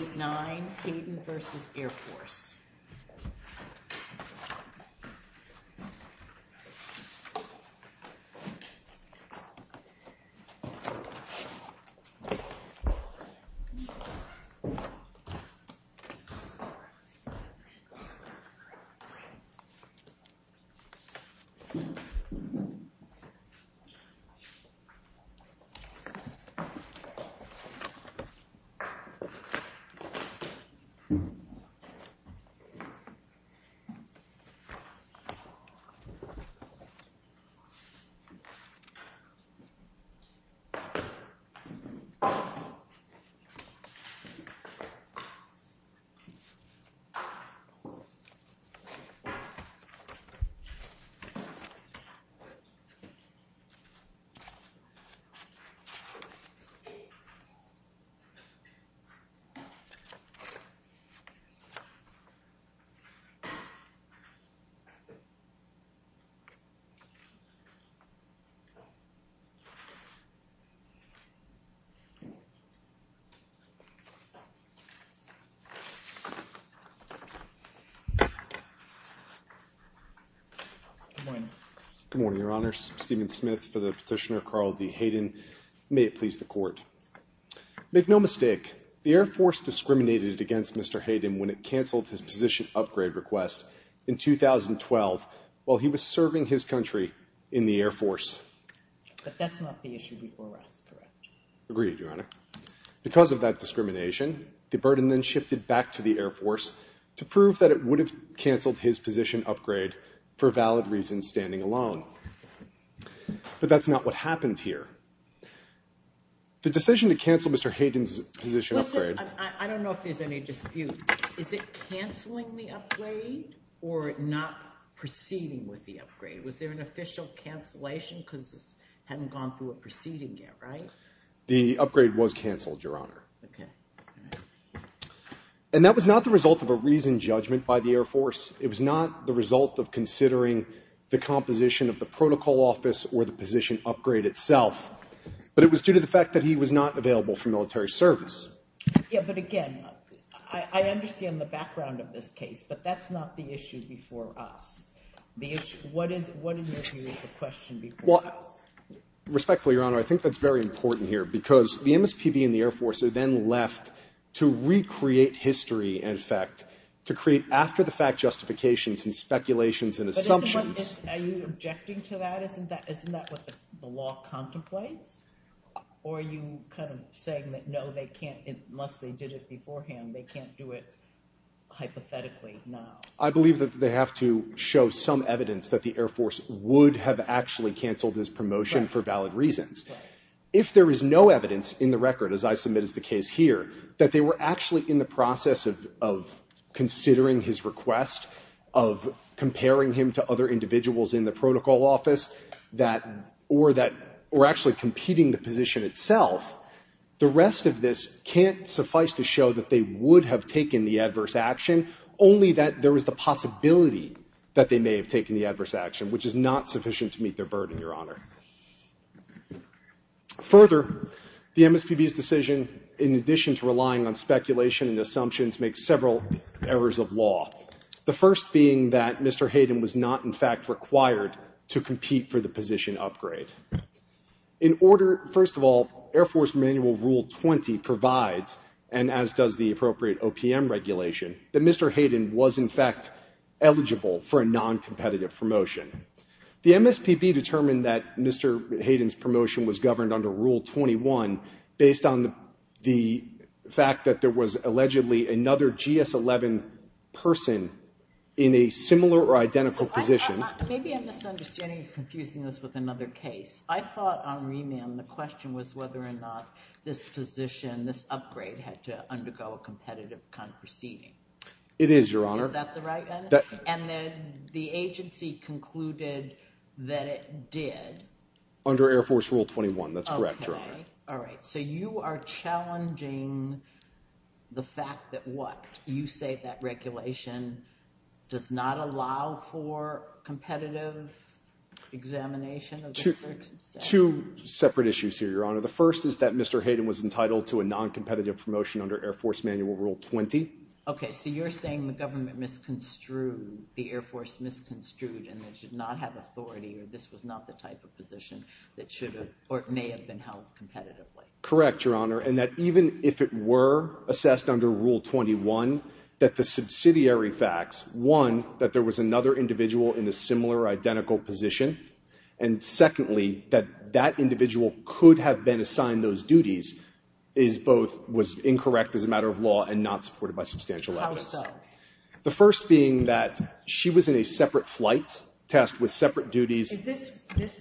8-9 Hayden v. Air Force 8-9 Hayden Good morning, your honors. Stephen Smith for the petitioner Carl D. Hayden. Make no mistake, the Air Force discriminated against Mr. Hayden when it canceled his position upgrade request in 2012 while he was serving his country in the Air Force. But that's not the issue before us, correct? Agreed, your honor. Because of that discrimination, the burden then shifted back to the Air Force to prove that it would have canceled his position upgrade for valid reasons standing alone. But that's not what happened here. The decision to cancel Mr. Hayden's position upgrade... Listen, I don't know if there's any dispute. Is it canceling the upgrade or not proceeding with the upgrade? Was there an official cancellation? Because this hadn't gone through a proceeding yet, right? The upgrade was canceled, your honor. Okay. And that was not the result of a reasoned judgment by the Air Force. It was not the result of considering the composition of the protocol office or the position upgrade itself. But it was due to the fact that he was not available for military service. Yeah, but again, I understand the background of this case, but that's not the issue before us. What is the question before us? Respectfully, your honor, I think that's very important here because the MSPB and the Air Force are then left to recreate history, in effect, to create after-the-fact justifications and speculations and assumptions. Are you objecting to that? Isn't that what the law contemplates? Or are you kind of saying that, no, they can't, unless they did it beforehand, they can't do it hypothetically now? I believe that they have to show some evidence that the Air Force would have actually canceled his promotion for valid reasons. If there is no evidence in the record, as I submit as the case here, that they were actually in the process of considering his request, of comparing him to other individuals in the protocol office, or actually competing the position itself, the rest of this can't suffice to show that they would have taken the adverse action, only that there was the possibility that they may have taken the adverse action, which is not sufficient to meet their burden, your honor. Further, the MSPB's decision, in addition to relying on speculation and assumptions, makes several errors of law. The first being that Mr. Hayden was not, in fact, required to compete for the position upgrade. In order, first of all, Air Force Manual Rule 20 provides, and as does the appropriate OPM regulation, that Mr. Hayden was, in fact, eligible for a noncompetitive promotion. The MSPB determined that Mr. Hayden's promotion was governed under Rule 21, based on the fact that there was allegedly another GS-11 person in a similar or identical position. Maybe I'm misunderstanding and confusing this with another case. I thought on remand the question was whether or not this position, this upgrade, had to undergo a competitive kind of proceeding. It is, your honor. Is that the right answer? And the agency concluded that it did. Under Air Force Rule 21, that's correct, your honor. All right. So you are challenging the fact that what? You say that regulation does not allow for competitive examination? Two separate issues here, your honor. The first is that Mr. Hayden was entitled to a noncompetitive promotion under Air Force Manual Rule 20. Okay. So you're saying the government misconstrued, the Air Force misconstrued and they should not have authority or this was not the type of position that should have or may have been held competitively? Correct, your honor. And that even if it were assessed under Rule 21, that the subsidiary facts, one, that there was another individual in a similar or identical position, and secondly, that that individual could have been assigned those duties, is both was incorrect as a matter of law and not supported by substantial evidence. How so? The first being that she was in a separate flight test with separate duties. Is this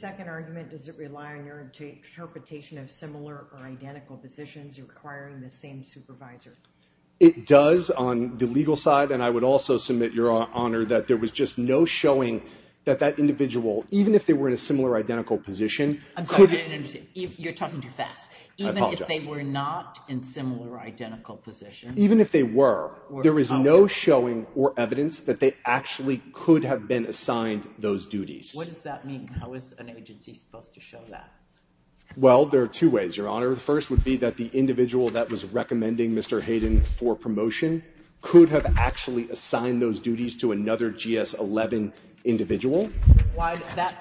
second argument, does it rely on your interpretation of similar or identical positions requiring the same supervisor? It does on the legal side and I would also submit, your honor, that there was just no showing that that individual, even if they were in a similar or identical position. I'm sorry, I didn't understand. You're talking too fast. I apologize. Even if they were not in similar or identical positions? Even if they were. There is no showing or evidence that they actually could have been assigned those duties. What does that mean? How is an agency supposed to show that? Well, there are two ways, your honor. The first would be that the individual that was recommending Mr. Hayden for promotion could have actually assigned those duties to another GS-11 individual.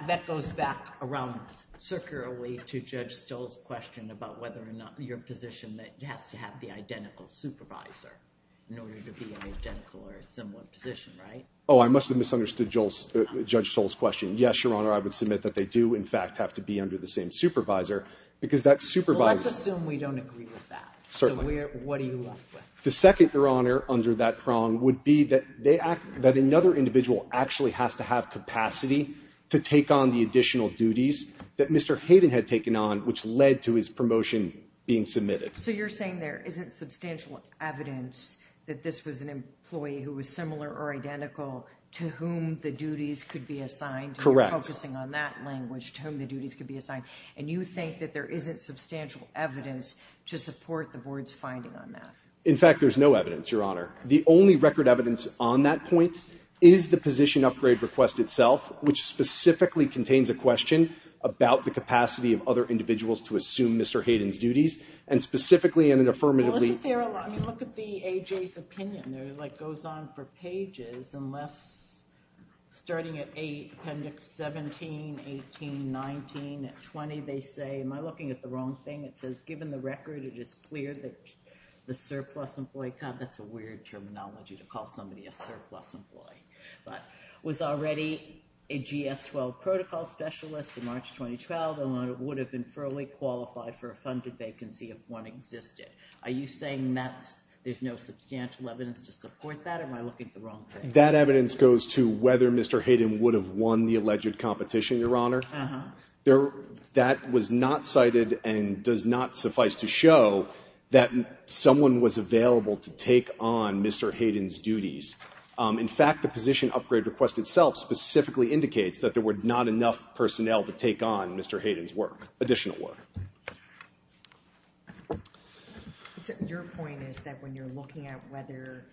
That goes back around circularly to Judge Stoll's question about whether or not your position that it has to have the identical supervisor. In order to be in an identical or similar position, right? Oh, I must have misunderstood Judge Stoll's question. Yes, your honor, I would submit that they do in fact have to be under the same supervisor because that supervisor. Well, let's assume we don't agree with that. Certainly. So what are you left with? The second, your honor, under that prong would be that another individual actually has to have capacity to take on the additional duties that Mr. Hayden had taken on which led to his promotion being submitted. So you're saying there isn't substantial evidence that this was an employee who was similar or identical to whom the duties could be assigned? Correct. And you're focusing on that language, to whom the duties could be assigned. And you think that there isn't substantial evidence to support the board's finding on that? In fact, there's no evidence, your honor. The only record evidence on that point is the position upgrade request itself, which specifically contains a question about the capacity of other employees to perform Mr. Hayden's duties, and specifically in an affirmative way. Well, isn't there a lot? I mean, look at the AJ's opinion. It goes on for pages, unless starting at 8, appendix 17, 18, 19, at 20, they say, am I looking at the wrong thing? It says, given the record, it is clear that the surplus employee, God, that's a weird terminology to call somebody a surplus employee, but was already a GS-12 protocol specialist in March 2012 and would have been fairly qualified for a funded vacancy if one existed. Are you saying that there's no substantial evidence to support that, or am I looking at the wrong thing? That evidence goes to whether Mr. Hayden would have won the alleged competition, your honor. Uh-huh. That was not cited and does not suffice to show that someone was available to take on Mr. Hayden's duties. In fact, the position upgrade request itself specifically indicates that there were not enough personnel to take on Mr. Hayden's work, additional work. Your point is that when you're looking at whether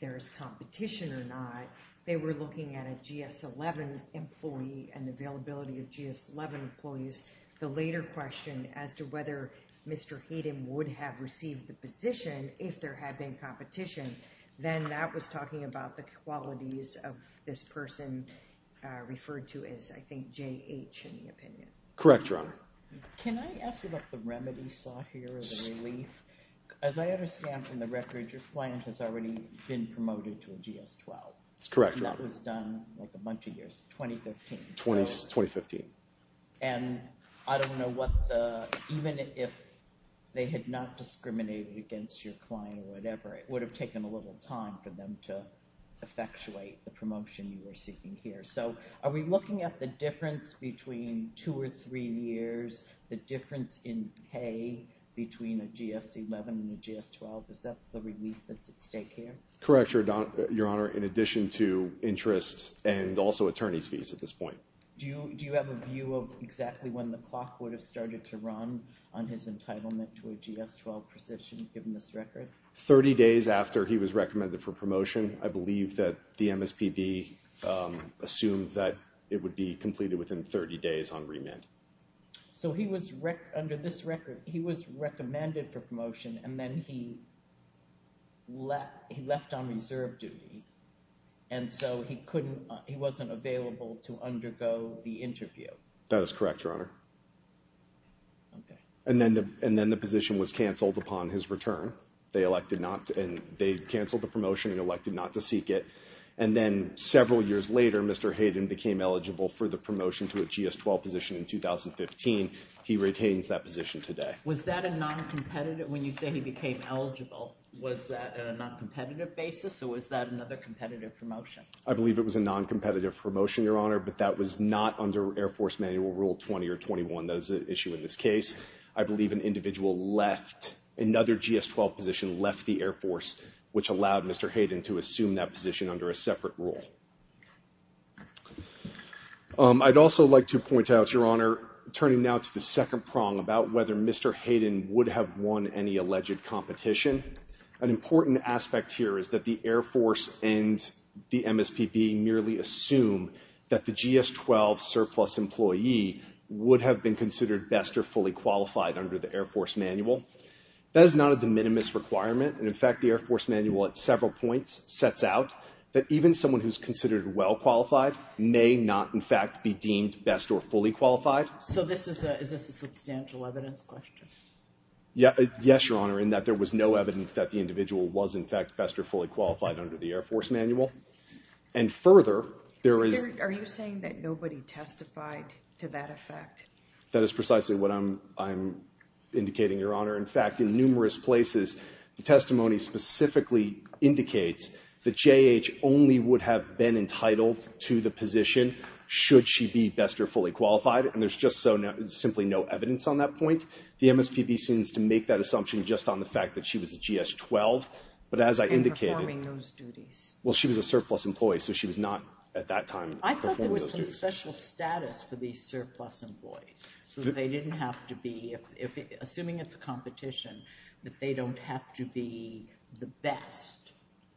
there's competition or not, they were looking at a GS-11 employee and the availability of GS-11 employees. The later question as to whether Mr. Hayden would have received the position if there had been competition, then that was talking about the qualities of this I think J-H in the opinion. Correct, your honor. Can I ask you about the remedy sought here or the relief? As I understand from the record, your client has already been promoted to a GS-12. That's correct, your honor. And that was done like a bunch of years ago, 2015. 2015. And I don't know what the, even if they had not discriminated against your client or whatever, it would have taken a little time for them to effectuate the promotion you were seeking here. So are we looking at the difference between two or three years, the difference in pay between a GS-11 and a GS-12? Is that the relief that's at stake here? Correct, your honor. In addition to interest and also attorney's fees at this point. Do you have a view of exactly when the clock would have started to run on his entitlement to a GS-12 position given this record? 30 days after he was recommended for promotion. I believe that the MSPB assumed that it would be completed within 30 days on remit. So he was, under this record, he was recommended for promotion and then he left on reserve duty. And so he couldn't, he wasn't available to undergo the interview. That is correct, your honor. Okay. And then the position was canceled upon his return. They canceled the promotion and elected not to seek it. And then several years later, Mr. Hayden became eligible for the promotion to a GS-12 position in 2015. He retains that position today. Was that a non-competitive, when you say he became eligible, was that a non-competitive basis or was that another competitive promotion? I believe it was a non-competitive promotion, your honor, but that was not under Air Force Manual Rule 20 or 21. That is an issue in this case. I believe an individual left, another GS-12 position left the Air Force, which allowed Mr. Hayden to assume that position under a separate rule. I'd also like to point out, your honor, turning now to the second prong about whether Mr. Hayden would have won any alleged competition. An important aspect here is that the Air Force and the MSPB merely assume that the GS-12 surplus employee would have been considered best or fully qualified under the Air Force Manual. That is not a de minimis requirement. In fact, the Air Force Manual at several points sets out that even someone who's considered well qualified may not, in fact, be deemed best or fully qualified. So is this a substantial evidence question? Yes, your honor, in that there was no evidence that the individual was, in fact, best or fully qualified under the Air Force Manual. And further, there is. Are you saying that nobody testified to that effect? That is precisely what I'm indicating, your honor. In fact, in numerous places the testimony specifically indicates that J.H. only would have been entitled to the position should she be best or fully qualified, and there's just so simply no evidence on that point. The MSPB seems to make that assumption just on the fact that she was a GS-12, but as I indicated. And performing those duties. Well, she was a surplus employee, so she was not at that time performing those duties. I thought there was some special status for these surplus employees, so they didn't have to be, assuming it's a competition, that they don't have to be the best.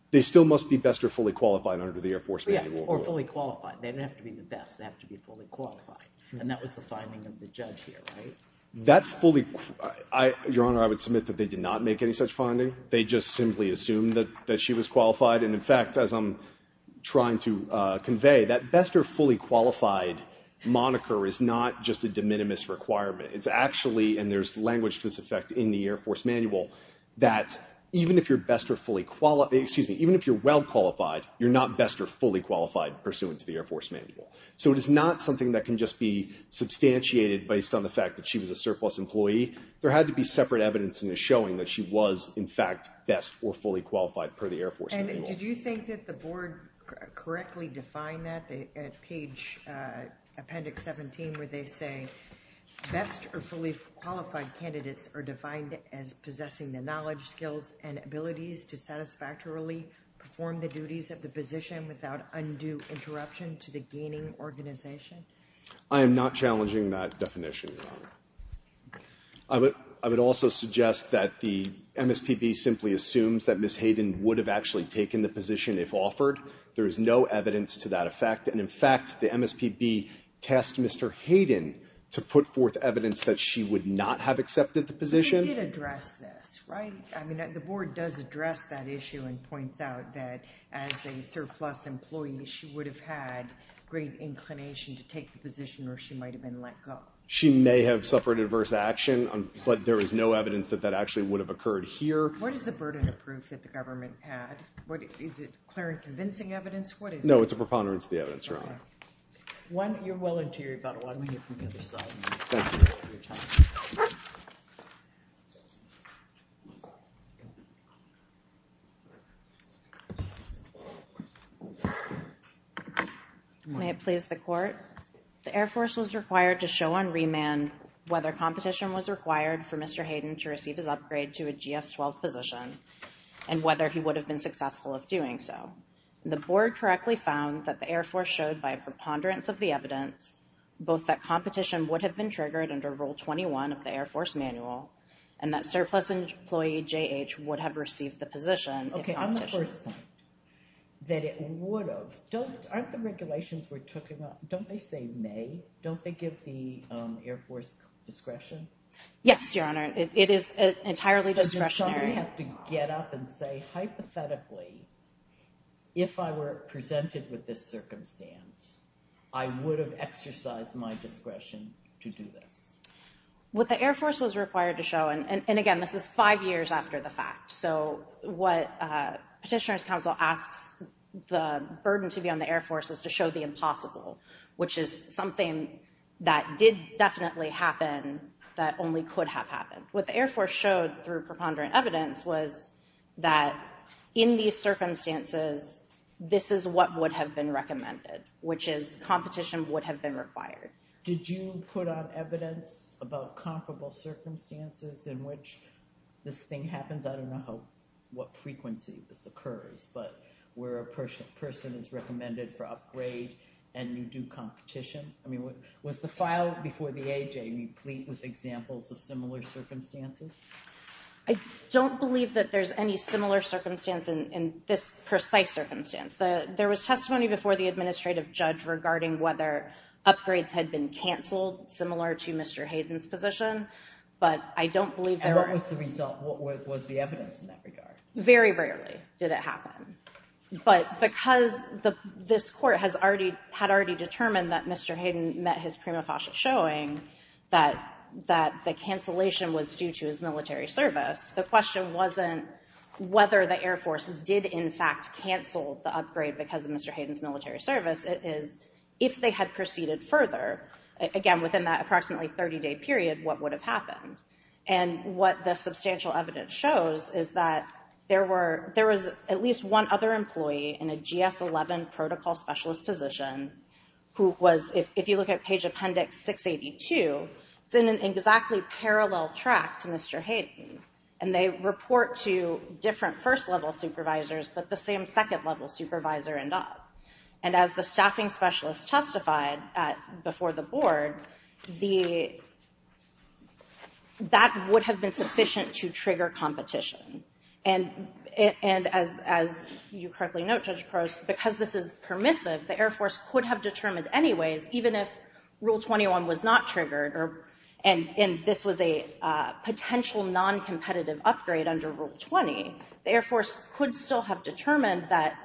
They still must be best or fully qualified under the Air Force Manual. Yeah, or fully qualified. They don't have to be the best. They have to be fully qualified. And that was the finding of the judge here, right? That fully, your honor, I would submit that they did not make any such finding. They just simply assumed that she was qualified. And, in fact, as I'm trying to convey, that best or fully qualified moniker is not just a de minimis requirement. It's actually, and there's language to this effect in the Air Force Manual, that even if you're best or fully, excuse me, even if you're well qualified, you're not best or fully qualified pursuant to the Air Force Manual. So it is not something that can just be substantiated based on the fact that she was a surplus employee. There had to be separate evidence in the showing that she was, in fact, best or fully qualified per the Air Force Manual. And did you think that the board correctly defined that? At page appendix 17 where they say, best or fully qualified candidates are defined as possessing the knowledge, skills, and abilities to satisfactorily perform the duties of the position without undue interruption to the gaining organization. I am not challenging that definition, your honor. I would also suggest that the MSPB simply assumes that Ms. Hayden would have actually taken the position if offered. There is no evidence to that effect. And in fact, the MSPB tasked Mr. Hayden to put forth evidence that she would not have accepted the position. But they did address this, right? I mean, the board does address that issue and points out that as a surplus employee, she would have had great inclination to take the position or she might have been let go. She may have suffered adverse action, but there is no evidence that that actually would have occurred here. What is the burden of proof that the government had? Is it clear and convincing evidence? What is it? No, it's a preponderance of the evidence, your honor. One, you're willing to hear about it. Why don't we hear from the other side? Thank you. May it please the court. The Air Force was required to show on remand, whether competition was required for Mr. Hayden to receive his upgrade to a GS 12 position and whether he would have been successful of doing so. The board correctly found that the Air Force showed by preponderance of the evidence, both that competition would have been triggered under rule 21 of the Air Force manual and that surplus employee JH would have received the position. Okay. I'm the first point that it would have. Don't aren't the regulations we're talking about. Don't they say may, don't they give the Air Force discretion? Yes, your honor. It is entirely discretionary to get up and say, hypothetically, if I were presented with this circumstance, I would have exercised my discretion to do this. What the Air Force was required to show. And again, this is five years after the fact. So what a petitioner's council asks the burden to be on the Air Force is to show the impossible, which is something that did definitely happen. That only could have happened with the Air Force showed through preponderant evidence was that in these circumstances, this is what would have been recommended, which is competition would have been required. Did you put on evidence about comparable circumstances in which this thing happens? I don't know how, what frequency this occurs, but where a person is recommended for upgrade and you do competition. I mean, was the file before the AJ replete with examples of similar circumstances? I don't believe that there's any similar circumstance in this precise circumstance. There was testimony before the administrative judge regarding whether upgrades had been canceled similar to Mr. Hayden's position, but I don't believe there was the result. What was the evidence in that regard? Very rarely did it happen. But because the, this court has already had already determined that Mr. Hayden met his prima facie showing that, that the cancellation was due to his military service. The question wasn't whether the Air Force did in fact cancel the upgrade because of Mr. Hayden's military service is if they had proceeded further again, within that approximately 30 day period, what would have happened? And what the substantial evidence shows is that there were, there was at least one other employee in a GS 11 protocol specialist position who was, if you look at page appendix 682, it's in an exactly parallel track to Mr. Hayden. And they report to different first level supervisors, but the same second level supervisor end up. And as the staffing specialists testified at before the board, the, that would have been sufficient to trigger competition. And it, and as, as you correctly note, judge pros, because this is permissive, the Air Force could have determined anyways, even if rule 21 was not triggered or, and, and this was a potential non-competitive upgrade under rule 20, the Air Force could still have determined that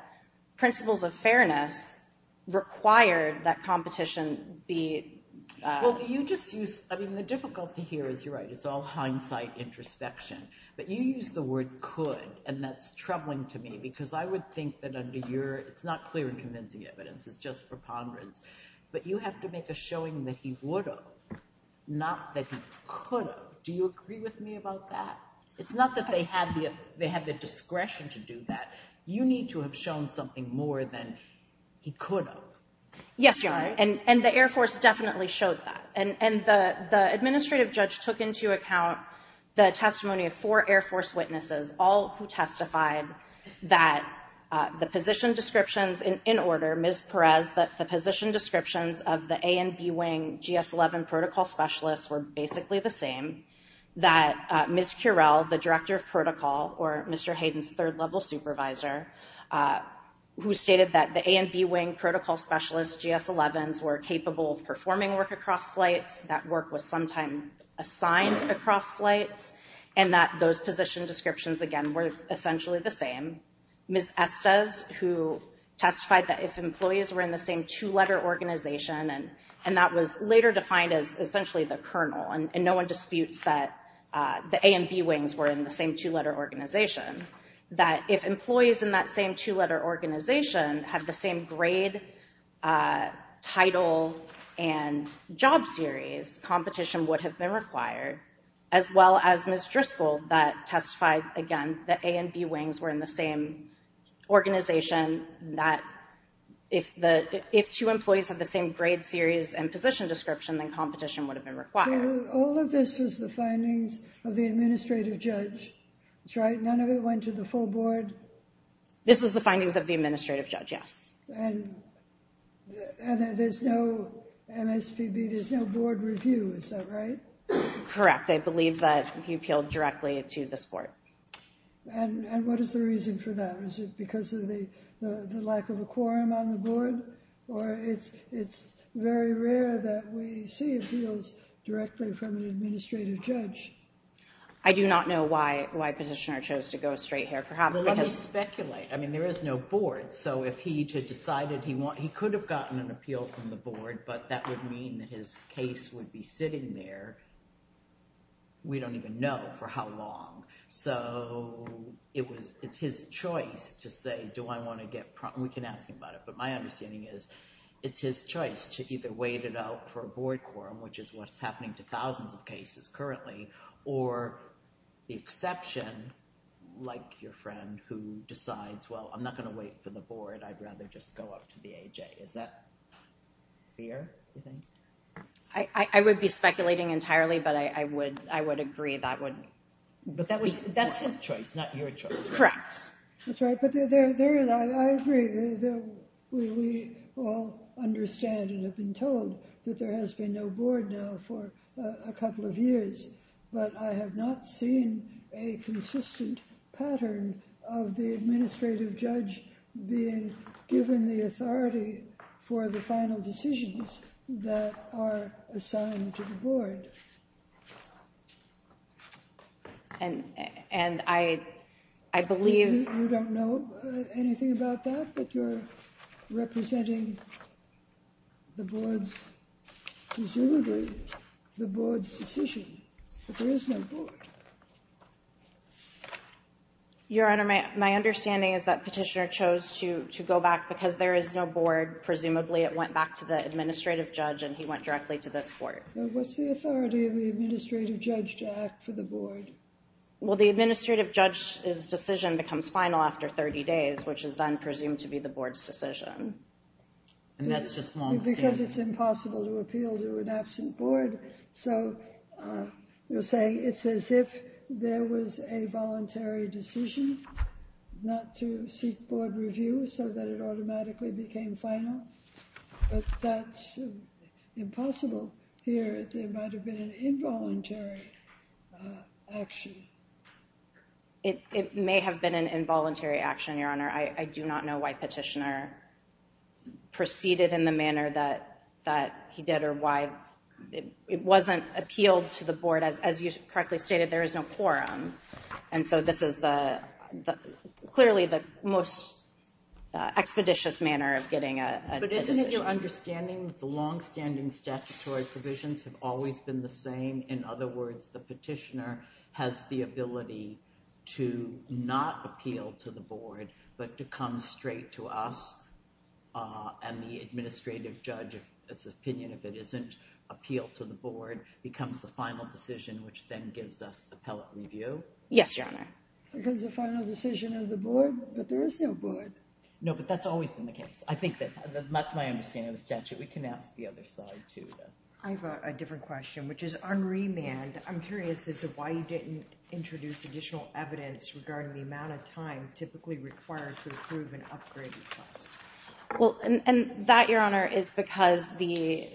principles of fairness required that competition be, well, you just use, I mean, the difficulty here is you're right. It's all hindsight introspection, but you use the word could, and that's troubling to me because I would think that under your, it's not clear and convincing evidence. It's just preponderance, but you have to make a showing that he would have, not that he could have. Do you agree with me about that? It's not that they had the, they had the discretion to do that. You need to have shown something more than he could have. Yes. And the Air Force definitely showed that. And, and the, the administrative judge took into account the testimony of four Air Force witnesses, all who testified that the position descriptions in, in order Ms. Perez, that the position descriptions of the A and B wing GS 11 protocol specialists were basically the same that Ms. Curell, the director of protocol or Mr. Hayden's third level supervisor, who stated that the A and B wing protocol specialists, GS 11s were capable of performing work across flights. That work was sometime assigned across flights and that those position descriptions, again, were essentially the same. Ms. Estes, who testified that if employees were in the same two letter organization and, and that was later defined as essentially the kernel and no one disputes that the A and B wings were in the same two letter organization, that if employees in that same two letter organization have the same grade title and job series, competition would have been required as well as Ms. Driscoll, that testified again, that A and B wings were in the same organization, that if the, if two employees have the same grade series and position description, then competition would have been required. All of this was the findings of the administrative judge. That's right. None of it went to the full board. This was the findings of the administrative judge. Yes. And there's no MSPB. There's no board review. Is that right? Correct. I believe that he appealed directly to the sport. And what is the reason for that? Or is it because of the, the lack of a quorum on the board or it's, it's very rare that we see appeals directly from an administrative judge. I do not know why, why petitioner chose to go straight here, perhaps because. Speculate. I mean, there is no board. So if he had decided he want, he could have gotten an appeal from the board, but that would mean that his case would be sitting there. We don't even know for how long. So it was, it's his choice to say, do I want to get, we can ask him about it, but my understanding is it's his choice to either wait it out for a board quorum, which is what's happening to thousands of cases currently, or the exception like your friend who decides, well, I'm not going to wait for the board. I'd rather just go up to the AJ. Is that fair? I would be speculating entirely, but I would, I would agree that wouldn't, but that was, that's his choice, not your choice. Correct. That's right. But there, there, I agree that we all understand and have been told that there has been no board now for a couple of years, but I have not seen a consistent pattern of the administrative judge given the authority for the final decisions that are assigned to the board. And, and I, I believe you don't know anything about that, but you're representing the boards, presumably the board's decision, but there is no board. Your honor. My understanding is that petitioner chose to, to go back because there is no board. Presumably it went back to the administrative judge and he went directly to this board. What's the authority of the administrative judge to act for the board? Well, the administrative judge is decision becomes final after 30 days, which is then presumed to be the board's decision. And that's just because it's impossible to appeal to an absent board. So you're saying it's as if there was a voluntary decision. Not to seek board review so that it automatically became final, but that's impossible here. There might've been an involuntary action. It may have been an involuntary action, your honor. I do not know why petitioner proceeded in the manner that, that he did or why it wasn't appealed to the board as, as you correctly stated, there is no quorum. And so this is the, the, clearly the most expeditious manner of getting a decision. But isn't it your understanding that the longstanding statutory provisions have always been the same. In other words, the petitioner has the ability to not appeal to the board, but to come straight to us. And the administrative judge, this opinion of it isn't appeal to the board becomes the final decision, which then gives us appellate review. Yes, your honor. Because the final decision of the board, but there is no board. No, but that's always been the case. I think that that's my understanding of the statute. We can ask the other side too. I've got a different question, which is on remand. I'm curious as to why you didn't introduce additional evidence regarding the amount of time typically required to approve an upgrade. Well, and that your honor is because the,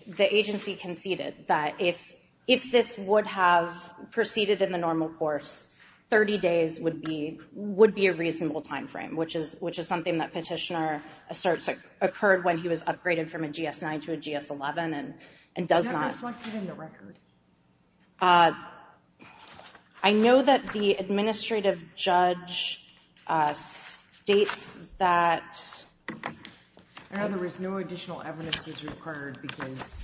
if this would have proceeded in the normal course, 30 days would be, would be a reasonable timeframe, which is, which is something that petitioner asserts occurred when he was upgraded from a GS nine to a GS 11 and, and does not. I know that the administrative judge states that. I know there was no additional evidence was required because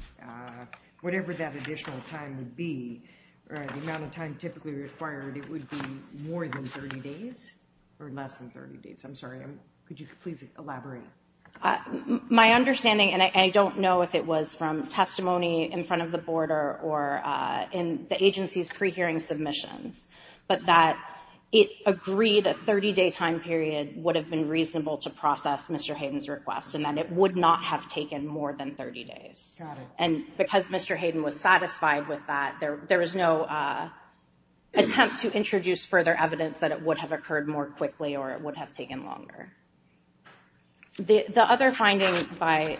whatever that additional time would be the amount of time typically required, it would be more than 30 days or less than 30 days. I'm sorry. Could you please elaborate my understanding? And I don't know if it was from testimony in front of the board or, or in the agency's pre-hearing submissions, but that it agreed a 30 day time period would have been reasonable to process Mr. Hayden's request. And then it would not have taken more than 30 days. And because Mr. Hayden was satisfied with that, there, there was no attempt to introduce further evidence that it would have occurred more quickly or it would have taken longer. The other finding by,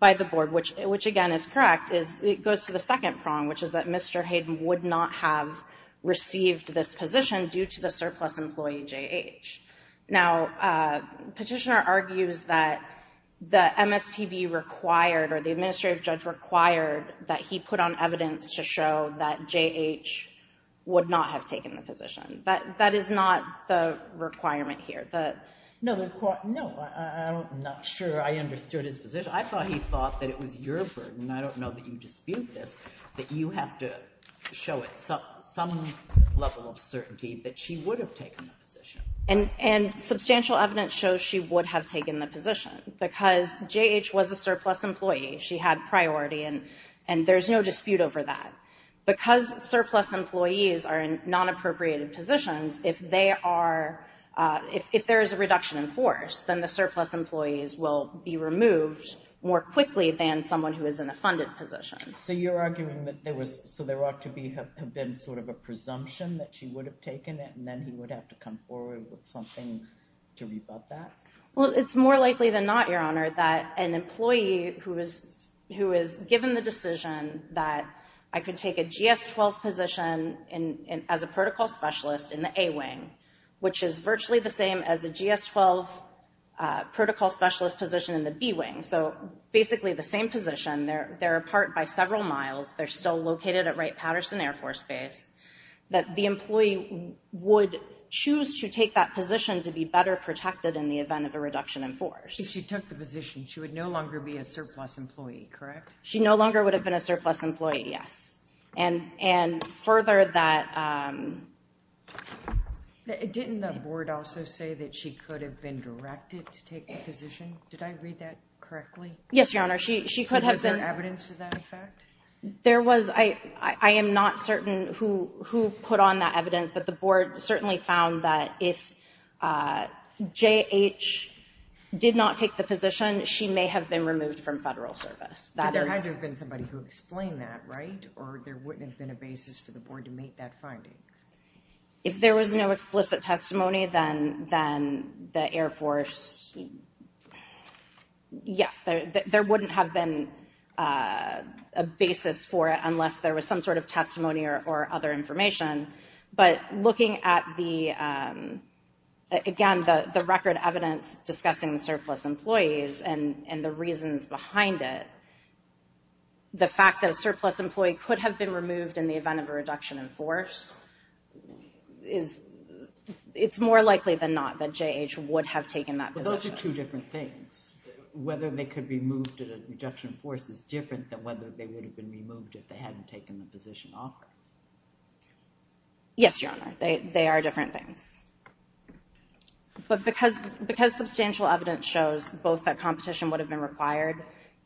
by the board, which, which again is correct, is it goes to the second prong, which is that Mr. Hayden would not have received this position due to the surplus employee JH. Now petitioner argues that the MSPB required or the administrative judge required that he put on evidence to show that JH would not have taken the position. That, that is not the requirement here. No, no, I'm not sure I understood his position. I thought he thought that it was your burden. I don't know that you dispute this, that you have to show it some level of certainty that she would have taken the position. And, and substantial evidence shows she would have taken the position because JH was a surplus employee. She had priority and, and there's no dispute over that because surplus employees are in non-appropriated positions. If they are, if there is a reduction in force, then the surplus employees will be removed more quickly than someone who is in a funded position. So you're arguing that there was, so there ought to be have been sort of a presumption that she would have taken it and then he would have to come forward with something to revoke that. Well, it's more likely than not, Your Honor, that an employee who is, who is given the decision that I could take a GS-12 position in, as a protocol specialist in the A wing, which is virtually the same as a GS-12 protocol specialist position in the B wing. So basically the same position, they're, they're apart by several miles. They're still located at Wright-Patterson Air Force Base, that the employee would choose to take that position to be better protected in the event of a reduction in force. If she took the position, she would no longer be a surplus employee. Correct? She no longer would have been a surplus employee. Yes. And, and further that. Didn't the board also say that she could have been directed to take the position? Did I read that correctly? Yes, Your Honor. She, she could have been. Was there evidence to that effect? There was, I, I am not certain who, who put on that evidence, but the board certainly found that if J.H. did not take the position, she may have been removed from federal service. But there had to have been somebody who explained that, right? Or there wouldn't have been a basis for the board to make that finding? If there was no explicit testimony, then, then the Air Force, yes, there, there wouldn't have been a basis for it unless there was some sort of testimony or, or other information. But looking at the, again, the, the record evidence discussing the surplus employees and the reasons behind it, the fact that a surplus employee could have been removed in the event of a reduction in force is, it's more likely than not that J.H. would have taken that position. But those are two different things. Whether they could be moved at a reduction in force is different than whether they would have been removed if they hadn't taken the position off. Yes, Your Honor. They, they are different things. But because, because substantial evidence shows both that competition would have been required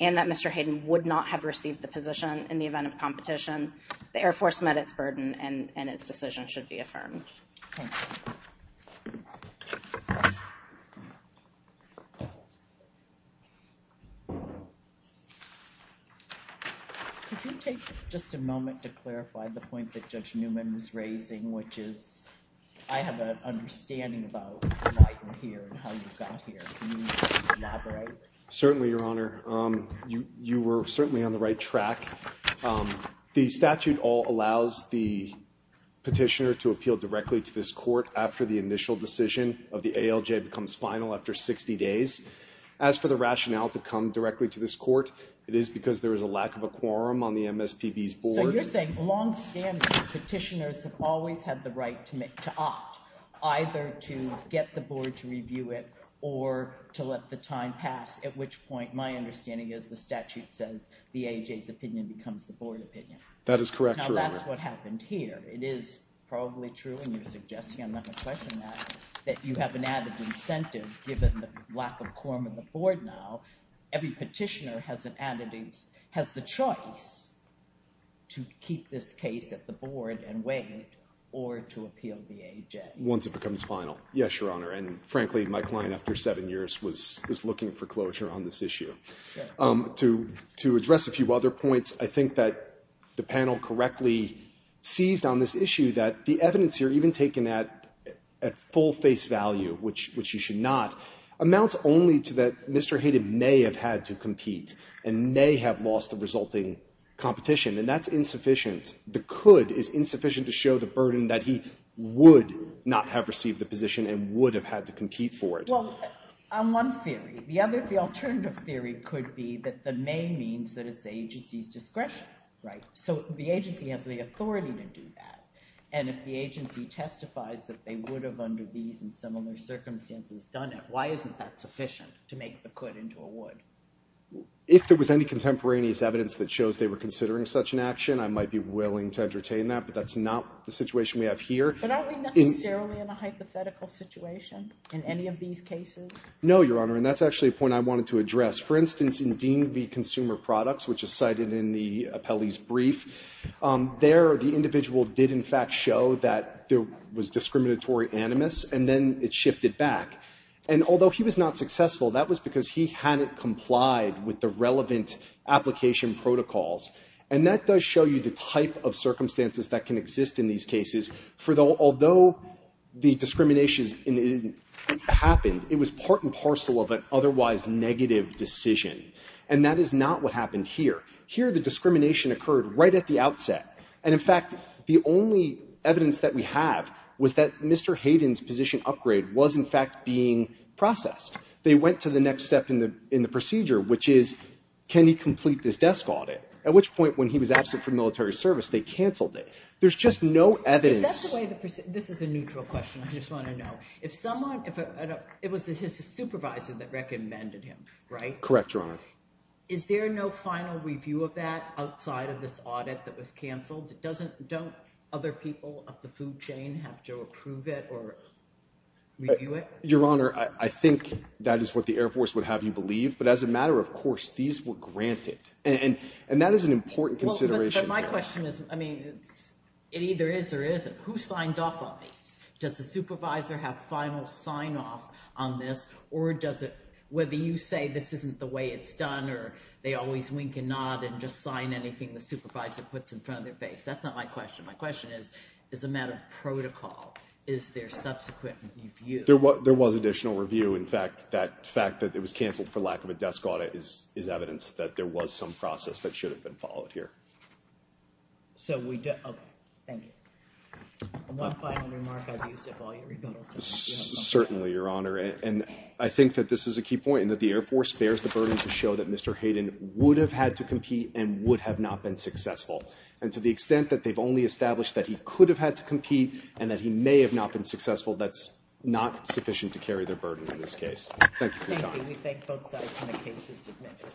and that Mr. Hayden would not have received the position in the event of competition, the Air Force met its burden and, and its decision should be affirmed. Thank you. Could you take just a moment to clarify the point that Judge Newman was raising, which is, I have an understanding about why you're here and how you got here. Can you elaborate? Certainly, Your Honor. You, you were certainly on the right track. The statute all allows the petitioner to appeal directly to this court after the initial decision of the ALJ becomes final after 60 days. As for the rationale to come directly to this court, it is because there is a lack of a quorum on the MSPB's board. So you're saying longstanding petitioners have always had the right to make, to opt, either to get the board to review it or to let the time pass, at which point, my understanding is the statute says the ALJ's opinion becomes the board opinion. That is correct, Your Honor. Now that's what happened here. It is probably true and you're suggesting, I'm not going to question that, that you have an added incentive given the lack of quorum in the board now. Every petitioner has an added incentive, has the choice to keep this case at the board and wait or to appeal the ALJ. Once it becomes final. Yes, Your Honor. And frankly, my client, after seven years, was looking for closure on this issue. To address a few other points, I think that the panel correctly sees on this issue that the evidence here, even taken at full face value, which you should not, amounts only to that Mr. Hayden may have had to compete and may have lost the resulting competition. And that's insufficient. The could is insufficient to show the burden that he would not have received the position and would have had to compete for it. Well, on one theory. The other, the alternative theory could be that the may means that it's the agency's discretion, right? So the agency has the authority to do that. And if the agency testifies that they would have under these and similar circumstances done it, why isn't that sufficient to make the could into a would? If there was any contemporaneous evidence that shows they were considering such an action, I might be willing to entertain that, but that's not the situation we have here. But aren't we necessarily in a hypothetical situation in any of these cases? No, Your Honor. And that's actually a point I wanted to address. For instance, in Dean v. Consumer Products, which is cited in the appellee's brief, there the individual did in fact show that there was discriminatory animus and then it shifted back. And although he was not successful, that was because he hadn't complied with the relevant application protocols. And that does show you the type of circumstances that can exist in these cases. Although the discrimination happened, it was part and parcel of an otherwise negative decision. And that is not what happened here. Here the discrimination occurred right at the outset. And in fact, the only evidence that we have was that Mr. Hayden's position upgrade was in fact being processed. They went to the next step in the procedure, which is can he complete this desk audit? At which point, when he was absent from military service, they canceled it. There's just no evidence. Is that the way the procedure? This is a neutral question. I just want to know if someone, if it was his supervisor that recommended him, right? Correct, Your Honor. Is there no final review of that outside of this audit that was canceled? It doesn't, don't other people of the food chain have to approve it or review it? Your Honor, I think that is what the Air Force would have you believe. But as a matter of course, these were granted and, and that is an important consideration. My question is, I mean, it's, it either is or isn't. Who signed off on these? Does the supervisor have final sign off on this or does it, whether you say this isn't the way it's done or they always wink and nod and just sign anything the supervisor puts in front of their face. That's not my question. My question is, is a matter of protocol. Is there subsequent review? There was additional review. In fact, that fact that it was canceled for lack of a desk audit is, is evidence that there was some process that should have been followed here. So we did. Okay. Thank you. One final remark. I've used it while you're rebuttal. Certainly, Your Honor. And I think that this is a key point and that the air force bears the burden to show that Mr. Hayden would have had to compete and would have not been successful. And to the extent that they've only established that he could have had to compete and that he may have not been successful. That's not sufficient to carry their burden in this case. Thank you. We thank both sides. And the case is submitted.